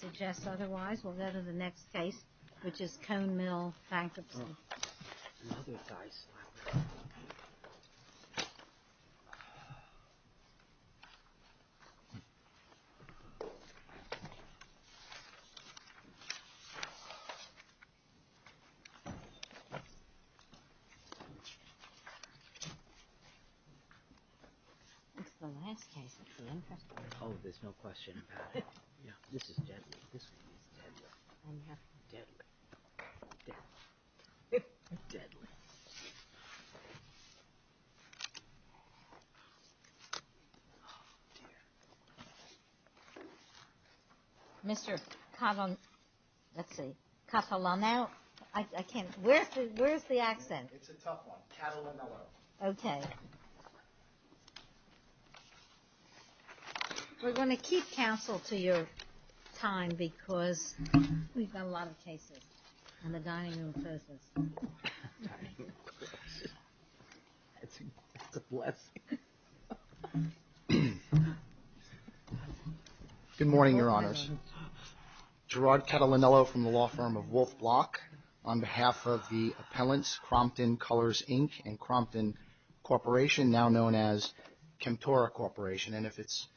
Suggest otherwise, we'll go to the next case, which is Cone Mill Bankruptcy. This is the last case that's really interesting. Oh, there's no question about it. Yeah, this is deadly. This is deadly. Deadly. Deadly. Deadly. Deadly. Deadly. Deadly. Deadly. Deadly. Oh, dear. Mr. Cattle, let's see, Cattle and Mellow. I can't, where's the accent? It's a tough one. Cattle and Mellow. Okay. We're going to keep counsel to your time because we've got a lot of cases on the dining room surfaces. That's a blessing. Good morning, Your Honors. Gerard Cattle and Mellow from the law firm of Wolf Block on behalf of the appellants, Crompton Colors, Inc. and Crompton Corporation, now known as Kemptora Corporation. And if it's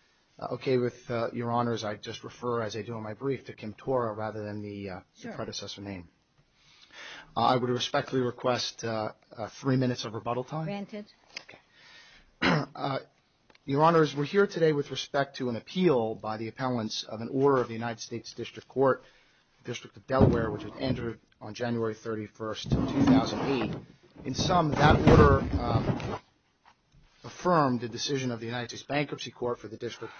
okay with Your Honors, I'd just refer, as I do on my brief, to Kemptora rather than the predecessor name. I would respectfully request three minutes of rebuttal time. Granted. Your Honors, we're here today with respect to an appeal by the appellants of an order of the United States District Court, District of Delaware, which was entered on January 31st, 2008. In sum, that order affirmed the decision of the United States Bankruptcy Court for the District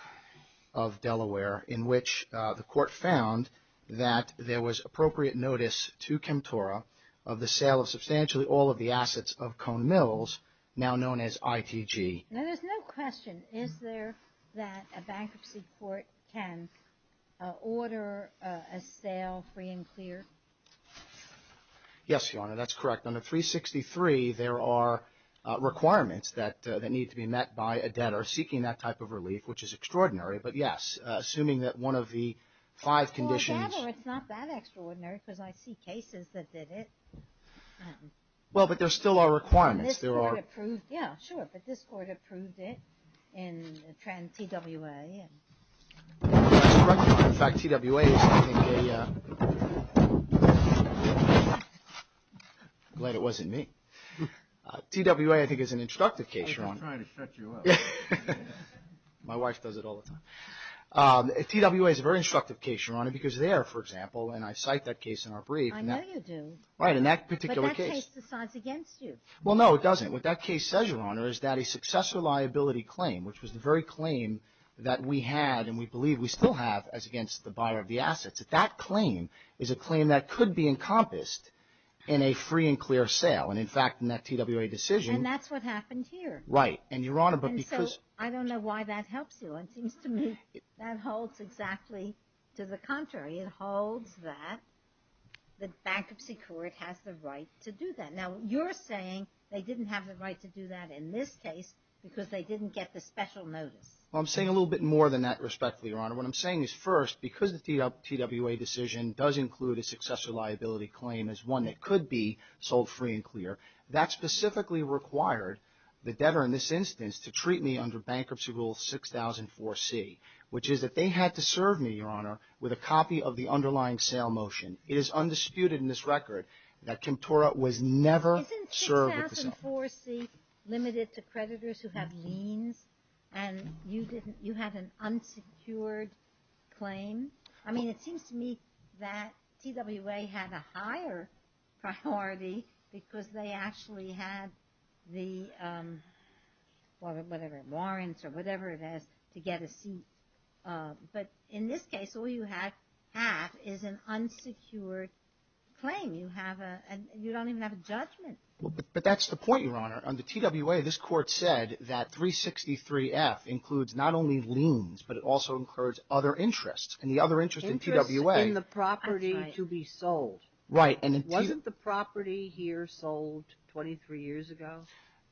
of Delaware, in which the court found that there was appropriate notice to Kemptora of the sale of substantially all of the assets of Cone Mills, now known as ITG. Now, there's no question. Is there that a bankruptcy court can order a sale free and clear? Yes, Your Honor. That's correct. Under 363, there are requirements that need to be met by a debtor seeking that type of relief, which is extraordinary. But, yes, assuming that one of the five conditions – Well, a debtor, it's not that extraordinary because I see cases that did it. Well, but there still are requirements. And this court approved – yeah, sure. But this court approved it in TWA. That's correct. In fact, TWA is, I think, a – glad it wasn't me. TWA, I think, is an instructive case, Your Honor. I was just trying to shut you up. My wife does it all the time. TWA is a very instructive case, Your Honor, because there, for example, and I cite that case in our brief. I know you do. Right, in that particular case. But that case decides against you. Well, no, it doesn't. What that case says, Your Honor, is that a successor liability claim, which was the very claim that we had and we believe we still have as against the buyer of the assets, that that claim is a claim that could be encompassed in a free and clear sale. And, in fact, in that TWA decision – And that's what happened here. Right. And, Your Honor, but because – And so I don't know why that helps you. It seems to me that holds exactly to the contrary. It holds that the bankruptcy court has the right to do that. Now, you're saying they didn't have the right to do that in this case because they didn't get the special notice. Well, I'm saying a little bit more than that, respectfully, Your Honor. What I'm saying is, first, because the TWA decision does include a successor liability claim as one that could be sold free and clear, that specifically required the debtor in this instance to treat me under Bankruptcy Rule 6004C, which is that they had to serve me, Your Honor, with a copy of the underlying sale motion. It is undisputed in this record that Kemptora was never served with the sale. Isn't 6004C limited to creditors who have liens and you didn't – you had an unsecured claim? I mean, it seems to me that TWA had a higher priority because they actually had the – whatever, warrants or whatever it is to get a seat. But in this case, all you have is an unsecured claim. You have a – you don't even have a judgment. But that's the point, Your Honor. On the TWA, this court said that 363F includes not only liens, but it also includes other interests. And the other interest in TWA – Interest in the property to be sold. Right. Wasn't the property here sold 23 years ago?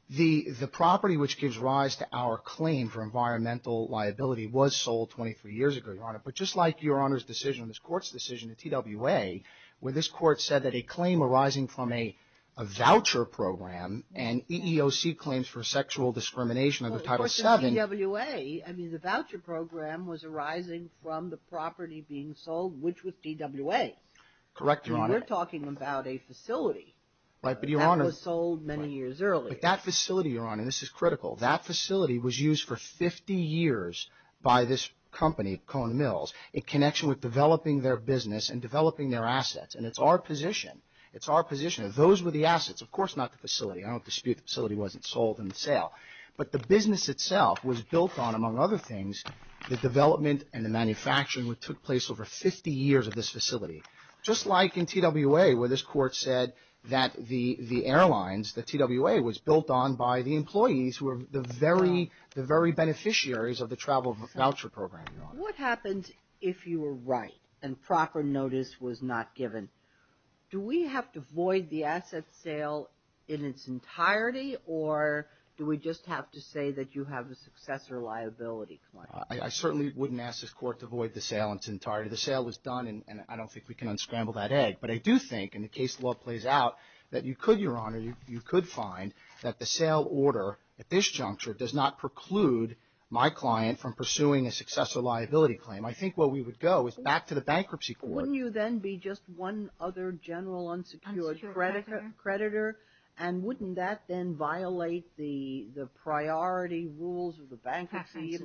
The property which gives rise to our claim for environmental liability was sold 23 years ago, Your Honor. But just like Your Honor's decision, this court's decision in TWA, where this court said that a claim arising from a voucher program and EEOC claims for sexual discrimination under Title VII – which was TWA. Correct, Your Honor. I mean, we're talking about a facility. Right, but Your Honor – That was sold many years earlier. But that facility, Your Honor – and this is critical – that facility was used for 50 years by this company, Cone Mills, in connection with developing their business and developing their assets. And it's our position – it's our position that those were the assets. Of course not the facility. I don't dispute the facility wasn't sold in the sale. But the business itself was built on, among other things, the development and the manufacturing which took place over 50 years of this facility. Just like in TWA, where this court said that the airlines – that TWA was built on by the employees who were the very beneficiaries of the travel voucher program, Your Honor. What happens if you were right and proper notice was not given? Do we have to void the asset sale in its entirety, or do we just have to say that you have a successor liability claim? I certainly wouldn't ask this court to void the sale in its entirety. The sale was done, and I don't think we can unscramble that egg. But I do think, in the case the law plays out, that you could, Your Honor, you could find that the sale order at this juncture does not preclude my client from pursuing a successor liability claim. I think where we would go is back to the bankruptcy court. Wouldn't you then be just one other general unsecured creditor? And wouldn't that then violate the priority rules of the bankruptcy?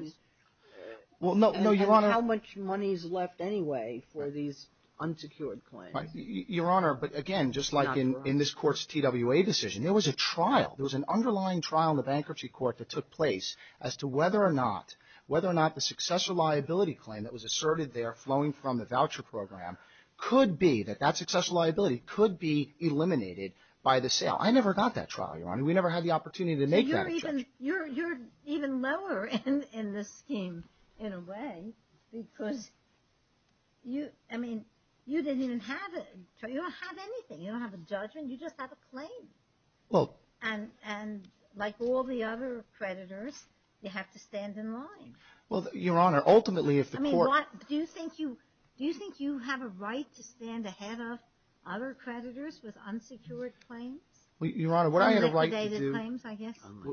And how much money is left anyway for these unsecured claims? Your Honor, but again, just like in this court's TWA decision, there was a trial, there was an underlying trial in the bankruptcy court that took place as to whether or not the successor liability claim that was asserted there flowing from the voucher program could be, that that successor liability could be eliminated by the sale. I never got that trial, Your Honor. We never had the opportunity to make that attempt. So you're even lower in this scheme in a way because you, I mean, you didn't even have a, you don't have anything. You don't have a judgment. You just have a claim. And like all the other creditors, you have to stand in line. Well, Your Honor, ultimately if the court do you think you have a right to stand ahead of other creditors with unsecured claims? Your Honor, what I had a right to do,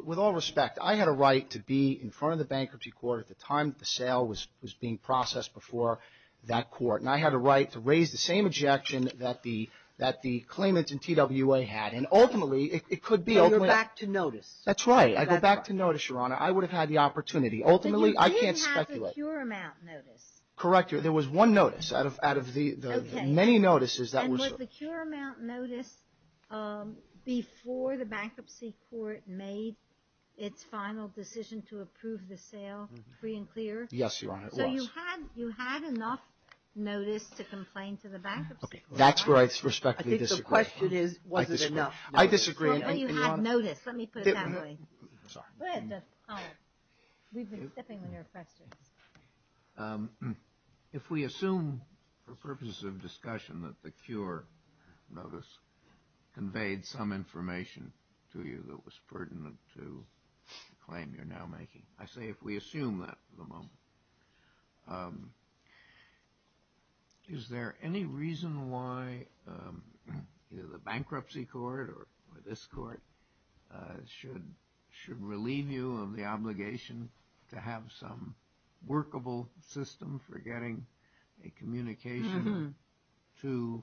with all respect, I had a right to be in front of the bankruptcy court at the time the sale was being processed before that court. And I had a right to raise the same objection that the claimants in TWA had. And ultimately, it could be. So you're back to notice. That's right. I go back to notice, Your Honor. I would have had the opportunity. Ultimately, I can't speculate. Correct, Your Honor. There was one notice out of the many notices. And was the cure amount notice before the bankruptcy court made its final decision to approve the sale free and clear? Yes, Your Honor, it was. So you had enough notice to complain to the bankruptcy court? That's where I respectfully disagree. I think the question is, was it enough? I disagree. But you had notice. Let me put it that way. Sorry. Go ahead. We've been sipping on your frustrations. If we assume for purposes of discussion that the cure notice conveyed some information to you that was pertinent to the claim you're now making, I say if we assume that at the moment, is there any reason why either the bankruptcy court or this court should relieve you of the obligation to have some workable system for getting a communication to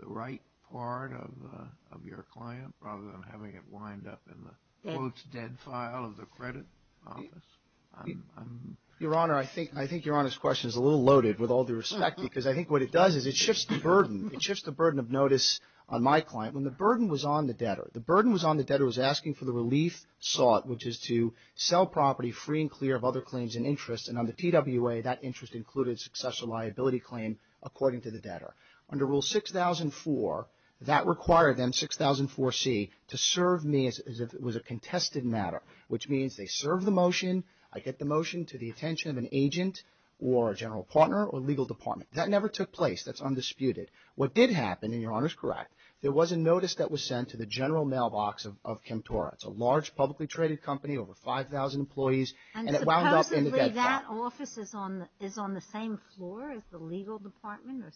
the right part of your client rather than having it wind up in the, quote, dead file of the credit office? Your Honor, I think Your Honor's question is a little loaded with all the respect because I think what it does is it shifts the burden. It shifts the burden of notice on my client. When the burden was on the debtor, the burden was on the debtor was asking for the relief sought, which is to sell property free and clear of other claims and interests. And on the TWA, that interest included successful liability claim, according to the debtor. Under Rule 6004, that required them, 6004C, to serve me as if it was a contested matter, which means they serve the motion, I get the motion to the attention of an agent or a general partner or legal department. That never took place. That's undisputed. What did happen, and Your Honor's correct, there was a notice that was sent to the general mailbox of Kemptora. It's a large publicly traded company, over 5,000 employees, and it wound up in the debt file. And supposedly that office is on the same floor as the legal department or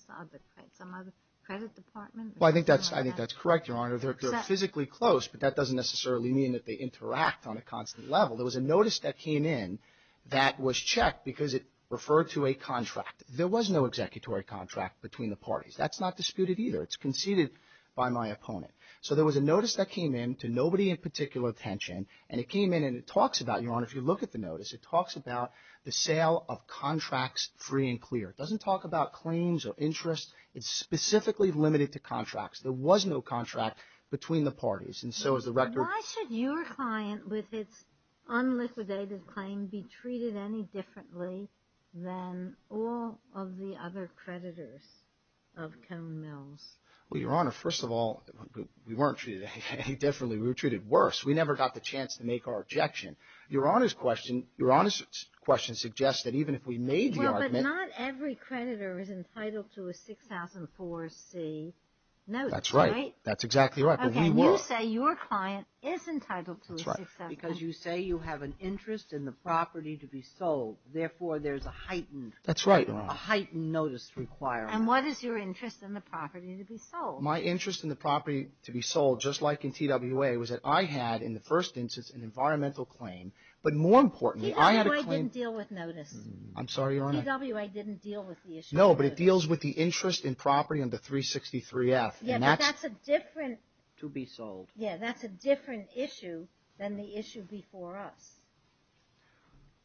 some other credit department? Well, I think that's correct, Your Honor. They're physically close, but that doesn't necessarily mean that they interact on a constant level. There was a notice that came in that was checked because it referred to a contract. There was no executory contract between the parties. That's not disputed either. It's conceded by my opponent. So there was a notice that came in to nobody in particular attention, and it came in and it talks about, Your Honor, if you look at the notice, it talks about the sale of contracts free and clear. It doesn't talk about claims or interest. It's specifically limited to contracts. There was no contract between the parties, and so is the record. Why should your client with its unliquidated claim be treated any differently than all of the other creditors of Cone Mills? Well, Your Honor, first of all, we weren't treated any differently. We were treated worse. We never got the chance to make our objection. Your Honor's question suggests that even if we made the argument. Well, but not every creditor is entitled to a 6004C note, right? That's right. That's exactly right, but we were. Okay, you say your client is entitled to a 6004C. That's right, because you say you have an interest in the property to be sold. Therefore, there's a heightened notice requirement. And what is your interest in the property to be sold? My interest in the property to be sold, just like in TWA, was that I had, in the first instance, an environmental claim. But more importantly, I had a claim. TWA didn't deal with notice. I'm sorry, Your Honor. TWA didn't deal with the issue. No, but it deals with the interest in property under 363F. Yeah, but that's a different. To be sold. Yeah, that's a different issue than the issue before us.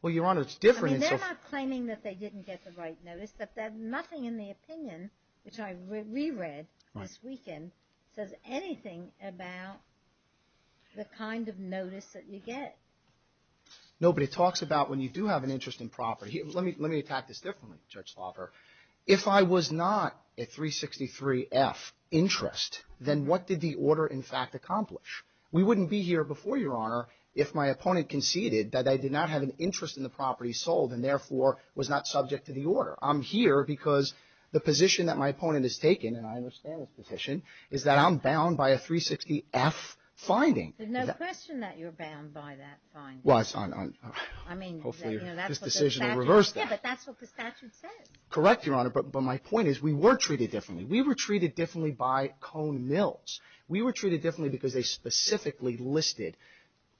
Well, Your Honor, it's different. I mean, they're not claiming that they didn't get the right notice. Nothing in the opinion, which I reread this weekend, says anything about the kind of notice that you get. No, but it talks about when you do have an interest in property. Let me attack this differently, Judge Slaugher. If I was not a 363F interest, then what did the order, in fact, accomplish? We wouldn't be here before, Your Honor, if my opponent conceded that I did not have an interest in the property sold and, therefore, was not subject to the order. I'm here because the position that my opponent has taken, and I understand this position, is that I'm bound by a 360F finding. There's no question that you're bound by that finding. Well, it's on, hopefully, this decision to reverse that. Yeah, but that's what the statute says. Correct, Your Honor, but my point is we were treated differently. We were treated differently by Cone Mills. We were treated differently because they specifically listed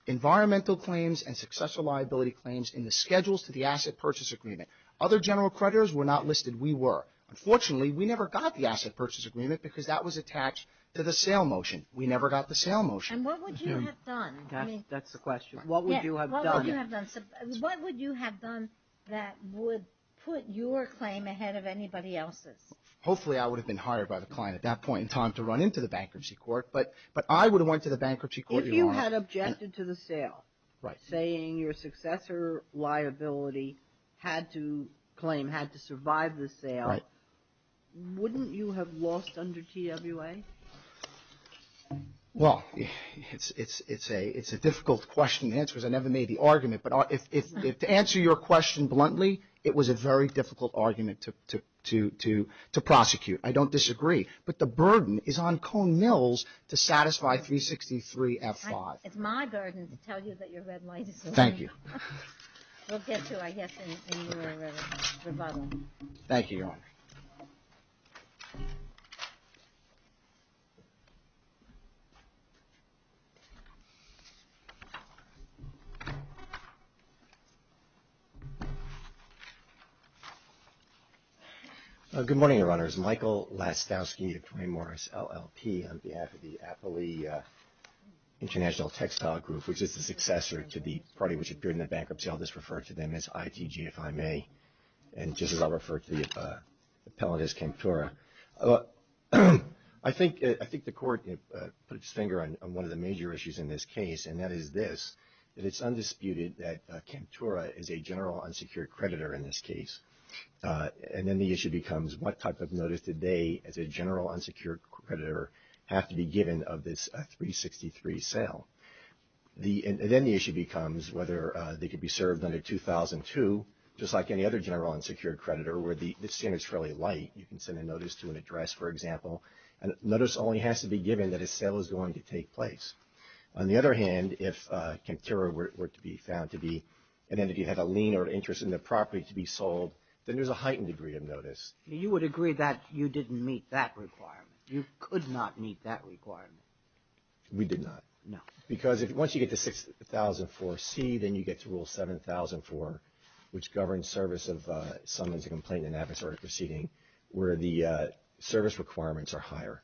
environmental claims and successful liability claims in the schedules to the asset purchase agreement. Other general creditors were not listed. We were. Unfortunately, we never got the asset purchase agreement because that was attached to the sale motion. We never got the sale motion. And what would you have done? That's the question. What would you have done? What would you have done that would put your claim ahead of anybody else's? Hopefully, I would have been hired by the client at that point in time to run into the bankruptcy court, but I would have went to the bankruptcy court. If you had objected to the sale, saying your successor liability had to claim, had to survive the sale, wouldn't you have lost under TWA? Well, it's a difficult question to answer because I never made the argument, but to answer your question bluntly, it was a very difficult argument to prosecute. I don't disagree, but the burden is on Cone Mills to satisfy 363 F5. It's my burden to tell you that your red light is on. Thank you. We'll get to, I guess, your rebuttal. Thank you, Your Honor. Thank you. Good morning, Your Honors. Michael Lastowski of Duane Morris LLP on behalf of the Afflee International Textile Group, which is the successor to the party which appeared in the bankruptcy. I'll just refer to them as ITG, if I may, and just as I'll refer to the appellate as Kemptura. I think the court put its finger on one of the major issues in this case, and that is this, that it's undisputed that Kemptura is a general unsecured creditor in this case, and then the issue becomes what type of notice did they, as a general unsecured creditor, have to be given of this 363 sale. Then the issue becomes whether they could be served under 2002, just like any other general unsecured creditor where the standard is fairly light. You can send a notice to an address, for example, and notice only has to be given that a sale is going to take place. On the other hand, if Kemptura were to be found to be, and then if you have a lien or interest in the property to be sold, then there's a heightened degree of notice. You would agree that you didn't meet that requirement. You could not meet that requirement. We did not. No. Because once you get to 6004C, then you get to Rule 7004, which governs service of summons a complaint in an adversarial proceeding, where the service requirements are higher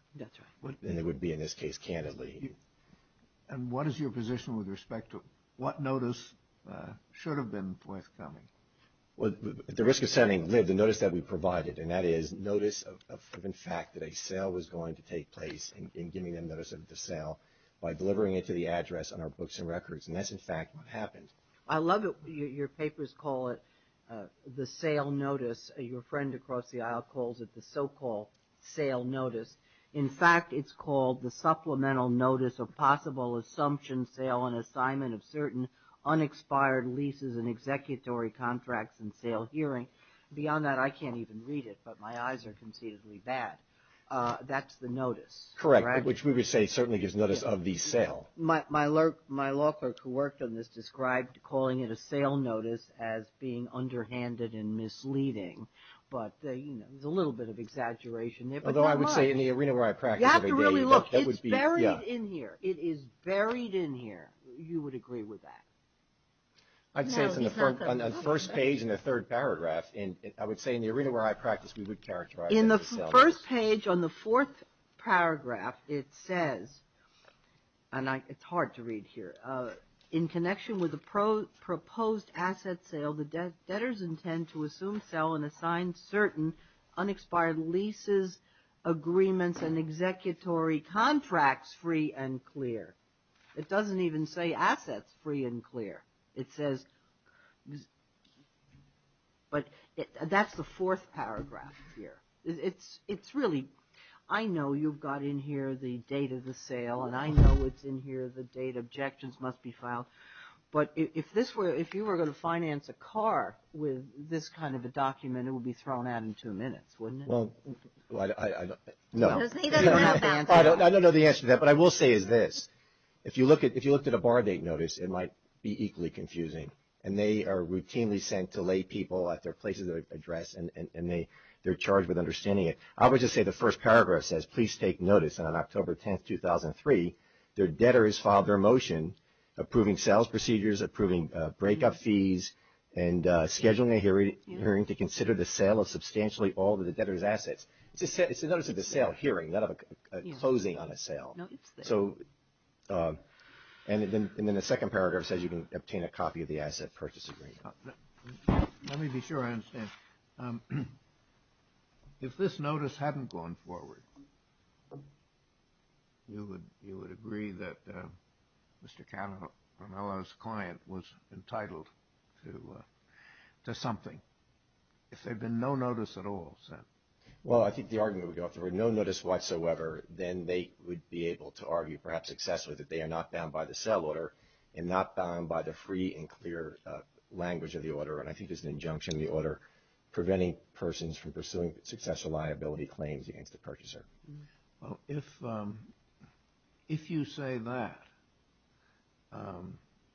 than they would be in this case, candidly. And what is your position with respect to what notice should have been forthcoming? Well, at the risk of sounding, the notice that we provided, and that is notice of, in fact, that a sale was going to take place and giving them notice of the sale by delivering it to the address on our books and records. And that's, in fact, what happened. I love that your papers call it the sale notice. Your friend across the aisle calls it the so-called sale notice. In fact, it's called the supplemental notice of possible assumption sale and assignment of certain unexpired leases and executory contracts and sale hearing. Beyond that, I can't even read it, but my eyes are concededly bad. That's the notice. Correct. Which we would say certainly gives notice of the sale. My law clerk who worked on this described calling it a sale notice as being underhanded and misleading. But, you know, there's a little bit of exaggeration there. Although I would say in the arena where I practice every day. You have to really look. It's buried in here. It is buried in here. You would agree with that. I'd say it's on the first page in the third paragraph. I would say in the arena where I practice, we would characterize it as a sale notice. In the first page on the fourth paragraph, it says, and it's hard to read here, in connection with the proposed asset sale, the debtors intend to assume, sell, and assign certain unexpired leases, agreements, and executory contracts free and clear. It doesn't even say assets free and clear. It says, but that's the fourth paragraph here. It's really, I know you've got in here the date of the sale, and I know it's in here the date objections must be filed. But if you were going to finance a car with this kind of a document, it would be thrown out in two minutes, wouldn't it? Well, no. I don't know the answer to that. What I will say is this. If you looked at a bar date notice, it might be equally confusing, and they are routinely sent to lay people at their places of address, and they're charged with understanding it. I would just say the first paragraph says, please take notice, and on October 10, 2003, their debtors filed their motion approving sales procedures, approving breakup fees, and scheduling a hearing to consider the sale of substantially all of the debtors' assets. It's a notice of the sale hearing, not a closing on a sale. And then the second paragraph says you can obtain a copy of the asset purchase agreement. Let me be sure I understand. If this notice hadn't gone forward, you would agree that Mr. Cannavale's client was entitled to something. If there had been no notice at all sent. Well, I think the argument would go if there were no notice whatsoever, then they would be able to argue perhaps successfully that they are not bound by the sell order and not bound by the free and clear language of the order, and I think it's an injunction of the order, preventing persons from pursuing successful liability claims against the purchaser. Well, if you say that,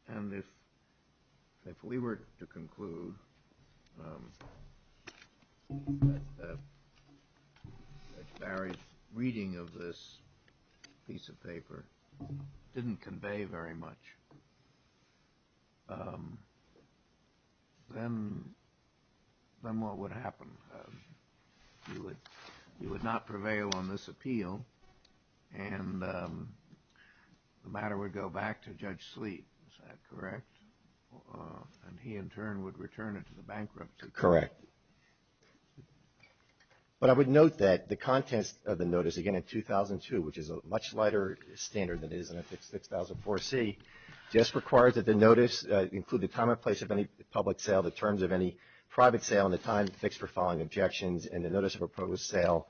and if we were to conclude that Barry's reading of this piece of paper didn't convey very much, then what would happen? He would not prevail on this appeal, and the matter would go back to Judge Sleet. Is that correct? And he, in turn, would return it to the bankruptcy. Correct. But I would note that the contents of the notice, again, in 2002, which is a much lighter standard than it is in 6004C, just requires that the notice include the time and place of any public sale, the terms of any private sale, and the time fixed for following objections, and the notice of a proposed sale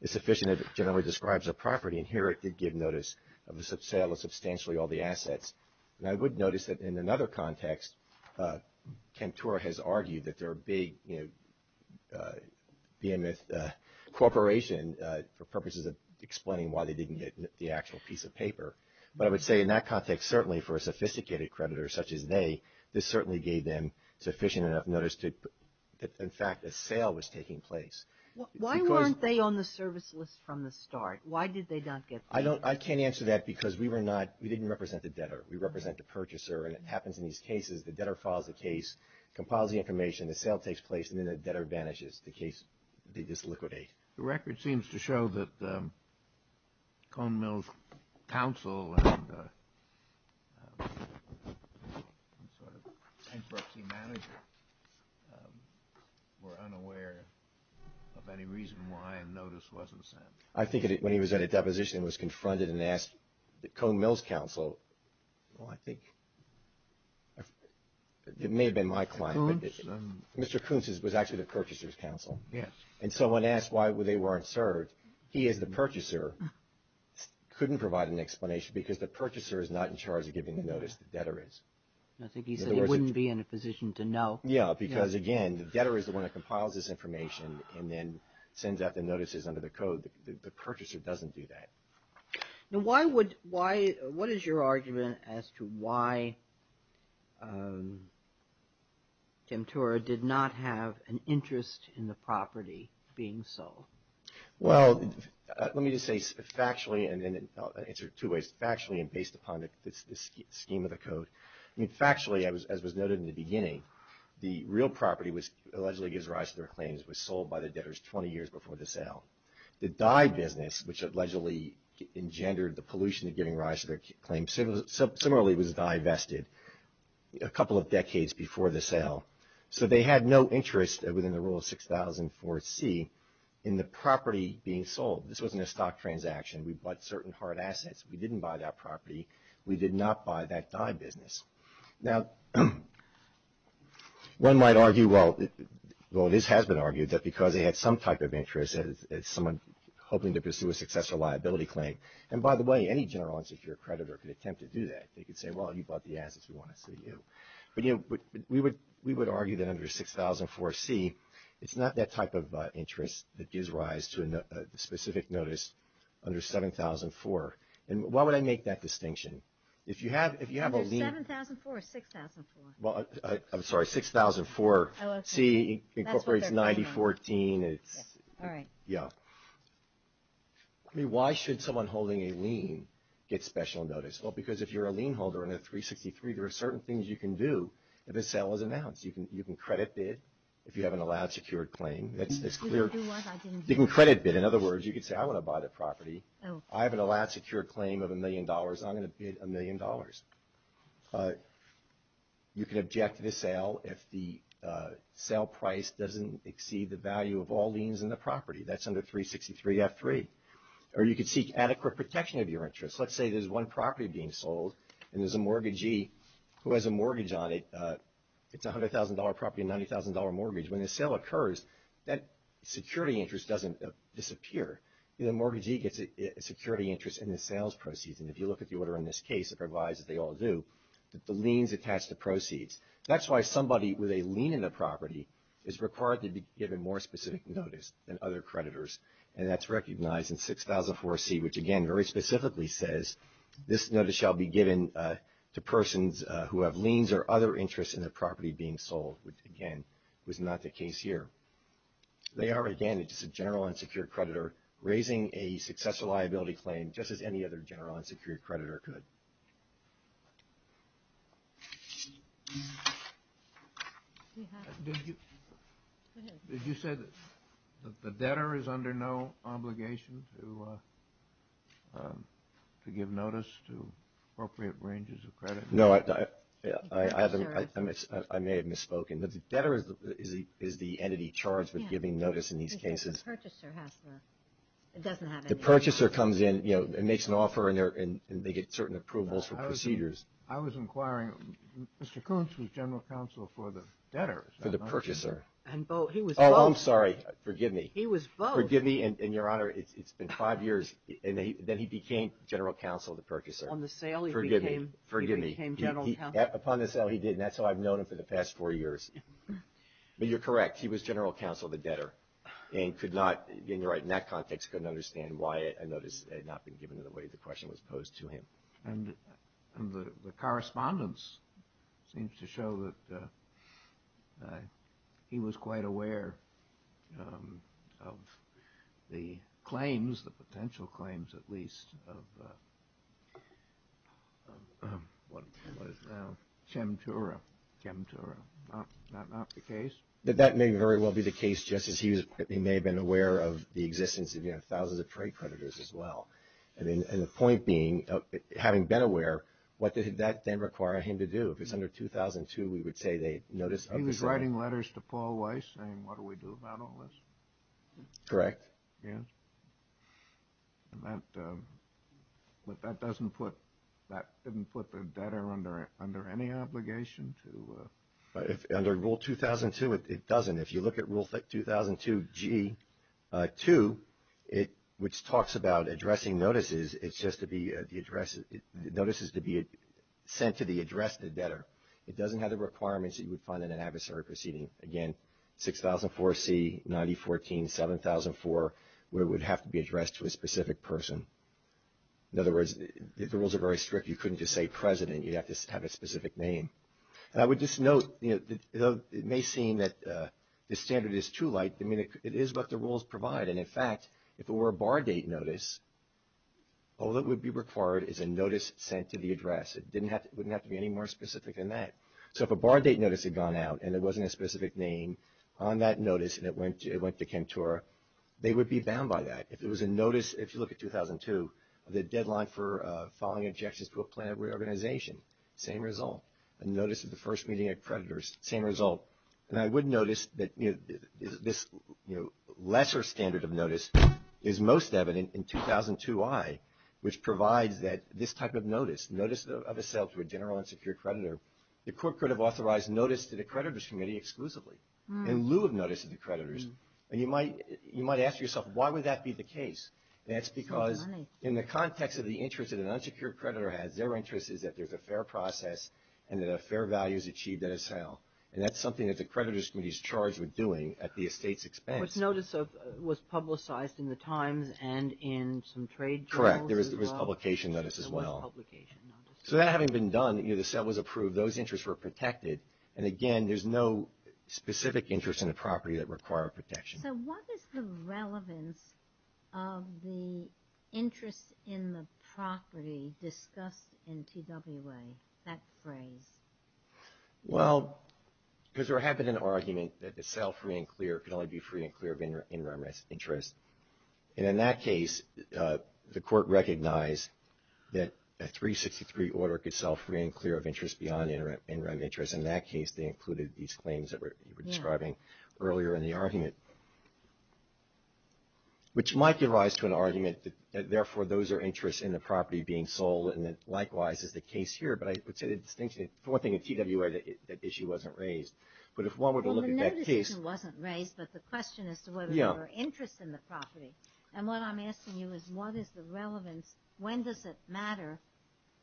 is sufficient if it generally describes a property, and here it did give notice of the sale of substantially all the assets. And I would notice that in another context, Kemptura has argued that they're a big, you know, behemoth corporation for purposes of explaining why they didn't get the actual piece of paper. But I would say in that context, certainly for a sophisticated creditor such as they, this certainly gave them sufficient enough notice that, in fact, a sale was taking place. Why weren't they on the service list from the start? Why did they not get the piece of paper? I can't answer that because we didn't represent the debtor. We represent the purchaser, and it happens in these cases. The debtor files the case, compiles the information, the sale takes place, and then the debtor vanishes. The case, they just liquidate. The record seems to show that Cone Mill's counsel and sort of bankruptcy manager were unaware of any reason why a notice wasn't sent. I think when he was at a deposition and was confronted and asked Cone Mill's counsel, well, I think it may have been my client, but Mr. Kuntz was actually the purchaser's counsel. Yes. And so when asked why they weren't served, he, as the purchaser, couldn't provide an explanation because the purchaser is not in charge of giving the notice. The debtor is. I think he said he wouldn't be in a position to know. Yes, because, again, the debtor is the one that compiles this information and then sends out the notices under the code. The purchaser doesn't do that. Now, what is your argument as to why Demtora did not have an interest in the property being sold? Well, let me just say factually, and I'll answer it two ways. Factually and based upon the scheme of the code, factually, as was noted in the beginning, the real property, which allegedly gives rise to their claims, was sold by the debtors 20 years before the sale. The dye business, which allegedly engendered the pollution to giving rise to their claims, similarly was dye vested a couple of decades before the sale. So they had no interest within the rule of 6004C in the property being sold. This wasn't a stock transaction. We bought certain hard assets. We didn't buy that property. We did not buy that dye business. Now, one might argue, well, this has been argued, that because they had some type of interest as someone hoping to pursue a successful liability claim. And, by the way, any general unsecured creditor could attempt to do that. They could say, well, you bought the assets. We want to see you. But, you know, we would argue that under 6004C, it's not that type of interest that gives rise to a specific notice under 7004. And why would I make that distinction? If you have a lien. Is it 7004 or 6004? Well, I'm sorry, 6004C incorporates 9014. All right. Yeah. I mean, why should someone holding a lien get special notice? Well, because if you're a lien holder under 363, there are certain things you can do if a sale is announced. You can credit bid if you have an allowed secured claim. You can credit bid. In other words, you could say, I want to buy the property. I have an allowed secured claim of $1 million. I'm going to bid $1 million. You can object to the sale if the sale price doesn't exceed the value of all liens in the property. That's under 363F3. Or you could seek adequate protection of your interest. Let's say there's one property being sold and there's a mortgagee who has a mortgage on it. It's a $100,000 property, a $90,000 mortgage. When the sale occurs, that security interest doesn't disappear. The mortgagee gets a security interest in the sales proceeds. And if you look at the order in this case, it provides, as they all do, that the liens attach to proceeds. That's why somebody with a lien in the property is required to be given more specific notice than other creditors. And that's recognized in 6004C, which, again, very specifically says, this notice shall be given to persons who have liens or other interests in their property being sold, which, again, was not the case here. They are, again, just a general unsecured creditor raising a successful liability claim, just as any other general unsecured creditor could. Did you say that the debtor is under no obligation to give notice to appropriate ranges of credit? No, I may have misspoken. The debtor is the entity charged with giving notice in these cases. The purchaser has to. It doesn't have any. The purchaser comes in, you know, and makes an offer, and they get certain approvals for procedures. I was inquiring. Mr. Kuntz was general counsel for the debtor. For the purchaser. And he was both. Oh, I'm sorry. Forgive me. He was both. Forgive me, and, Your Honor, it's been five years. And then he became general counsel of the purchaser. On the sale, he became general counsel. Forgive me. Upon the sale, he did, and that's how I've known him for the past four years. But you're correct. He was general counsel of the debtor and could not, in that context, couldn't understand why a notice had not been given in the way the question was posed to him. And the correspondence seems to show that he was quite aware of the claims, the potential claims, at least, of what is now Chemtura. Chemtura. Not the case? That may very well be the case, Justice. He may have been aware of the existence of, you know, thousands of trade creditors as well. And the point being, having been aware, what did that then require him to do? If it's under 2002, we would say they notice of the sale. He was writing letters to Paul Weiss saying, what do we do about all this? Correct. Yes. But that doesn't put the debtor under any obligation to? Under Rule 2002, it doesn't. If you look at Rule 2002G2, which talks about addressing notices, it's just the notices to be sent to the addressed debtor. It doesn't have the requirements that you would find in an adversary proceeding. Again, 6004C, 9014, 7004, where it would have to be addressed to a specific person. In other words, the rules are very strict. You couldn't just say President. You'd have to have a specific name. And I would just note, you know, it may seem that the standard is too light. I mean, it is what the rules provide. And, in fact, if it were a bar date notice, all that would be required is a notice sent to the address. It wouldn't have to be any more specific than that. So if a bar date notice had gone out and it wasn't a specific name on that notice and it went to Kentora, they would be bound by that. If it was a notice, if you look at 2002, the deadline for filing objections to a plan of reorganization, same result. A notice of the first meeting of creditors, same result. And I would notice that this lesser standard of notice is most evident in 2002I, which provides that this type of notice, notice of a sale to a general and secured creditor, the court could have authorized notice to the creditors' committee exclusively, in lieu of notice to the creditors. And you might ask yourself, why would that be the case? That's because in the context of the interest that an unsecured creditor has, their interest is that there's a fair process and that a fair value is achieved at a sale. And that's something that the creditors' committee is charged with doing at the estate's expense. But notice was publicized in the Times and in some trade journals as well. Correct. There was publication notice as well. There was publication notice. So that having been done, the sale was approved, those interests were protected. And, again, there's no specific interest in the property that required protection. So what is the relevance of the interest in the property discussed in TWA, that phrase? Well, because there happened an argument that the sale free and clear could only be free and clear of interest. And in that case, the court recognized that a 363 order could sell free and clear of interest beyond interest. In that case, they included these claims that you were describing earlier in the argument, which might give rise to an argument that, therefore, those are interests in the property being sold, and that likewise is the case here. But I would say the distinction is, for one thing, in TWA, that issue wasn't raised. But if one were to look at that case — Well, the negligence wasn't raised, but the question is whether there were interests in the property. And what I'm asking you is, what is the relevance? When does it matter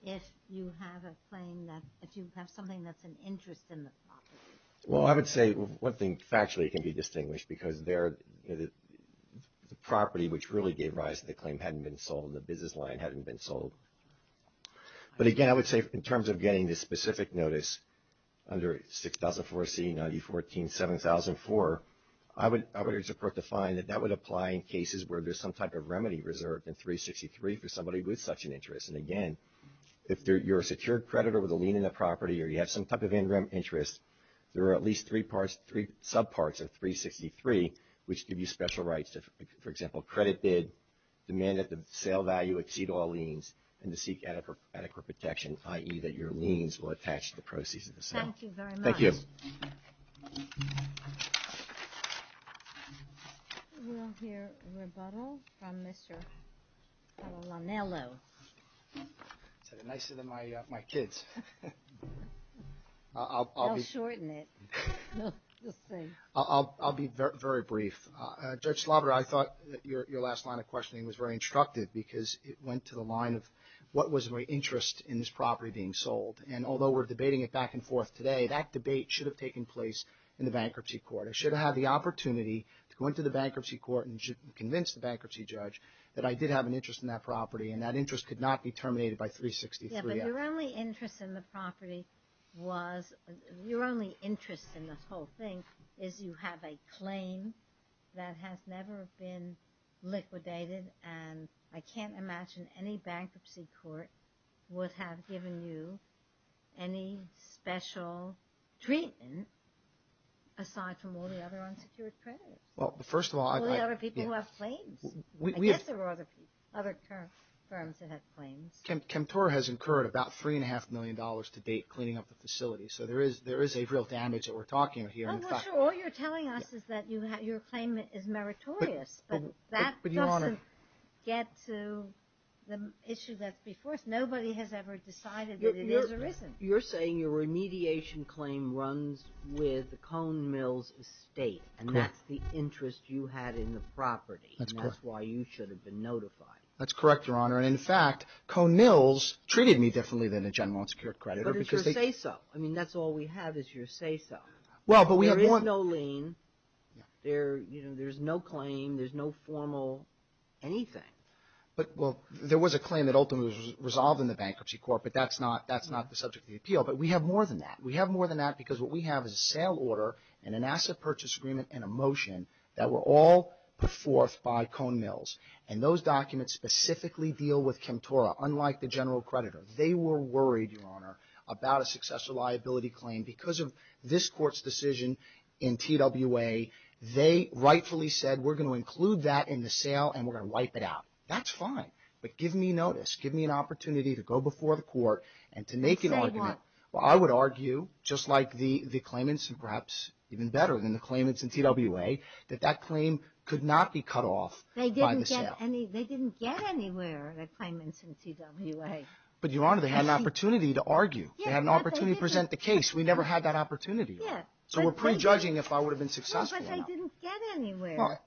if you have a claim that — if you have something that's an interest in the property? Well, I would say one thing factually can be distinguished, because the property, which really gave rise to the claim, hadn't been sold, and the business line hadn't been sold. But, again, I would say in terms of getting this specific notice under 6004C-9014-7004, I would urge the court to find that that would apply in cases where there's some type of remedy reserved in 363 for somebody with such an interest. And, again, if you're a secured creditor with a lien in the property or you have some type of interim interest, there are at least three parts — three subparts of 363, which give you special rights to, for example, credit bid, demand that the sale value exceed all liens, and to seek adequate protection, i.e., that your liens will attach to the proceeds of the sale. Thank you very much. Thank you. We'll hear a rebuttal from Mr. Lanello. It's nicer than my kids. I'll shorten it. I'll be very brief. Judge Sloboda, I thought your last line of questioning was very instructive because it went to the line of what was my interest in this property being sold. And although we're debating it back and forth today, that debate should have taken place in the bankruptcy court. I should have had the opportunity to go into the bankruptcy court and convince the bankruptcy judge that I did have an interest in that property, and that interest could not be terminated by 363. But your only interest in the property was — your only interest in the whole thing is you have a claim that has never been liquidated, and I can't imagine any bankruptcy court would have given you any special treatment aside from all the other unsecured credits. Well, first of all — All the other people who have claims. I guess there were other firms that had claims. Kemptor has incurred about $3.5 million to date cleaning up the facility, so there is a real damage that we're talking here. I'm not sure all you're telling us is that your claim is meritorious, but that doesn't get to the issue that's before us. Nobody has ever decided that it is or isn't. You're saying your remediation claim runs with the Cone Mills estate, and that's the interest you had in the property. That's correct. And that's why you should have been notified. That's correct, Your Honor. And, in fact, Cone Mills treated me differently than a general unsecured creditor because they — But it's your say-so. I mean, that's all we have is your say-so. Well, but we have more — There is no lien. There's no claim. There's no formal anything. But, well, there was a claim that ultimately was resolved in the bankruptcy court, but that's not the subject of the appeal. But we have more than that. We have more than that because what we have is a sale order and an asset purchase agreement and a motion that were all put forth by Cone Mills. And those documents specifically deal with Kemptora, unlike the general creditor. They were worried, Your Honor, about a successful liability claim because of this court's decision in TWA. They rightfully said, we're going to include that in the sale, and we're going to wipe it out. That's fine. But give me notice. Give me an opportunity to go before the court and to make an argument. Say what? Well, I would argue, just like the claimants, and perhaps even better than the claimants in TWA, that that claim could not be cut off — They didn't get any —— by the sale. They didn't get anywhere, the claimants in TWA. But, Your Honor, they had an opportunity to argue. Yeah, but they didn't. They had an opportunity to present the case. We never had that opportunity. Yeah. So we're prejudging if I would have been successful. No, but they didn't get anywhere. Well,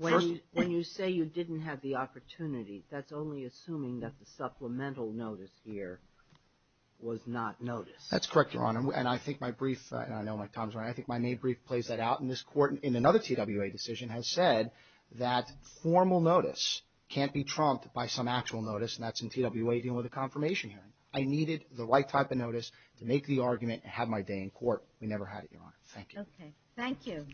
first — When you say you didn't have the opportunity, that's only assuming that the supplemental notice here was not noticed. That's correct, Your Honor. And I think my brief — and I know my time is running — I think my May brief plays that out. And this court, in another TWA decision, has said that formal notice can't be trumped by some actual notice, and that's in TWA dealing with a confirmation hearing. I needed the right type of notice to make the argument and have my day in court. We never had it, Your Honor. Thank you. Okay. Thank you.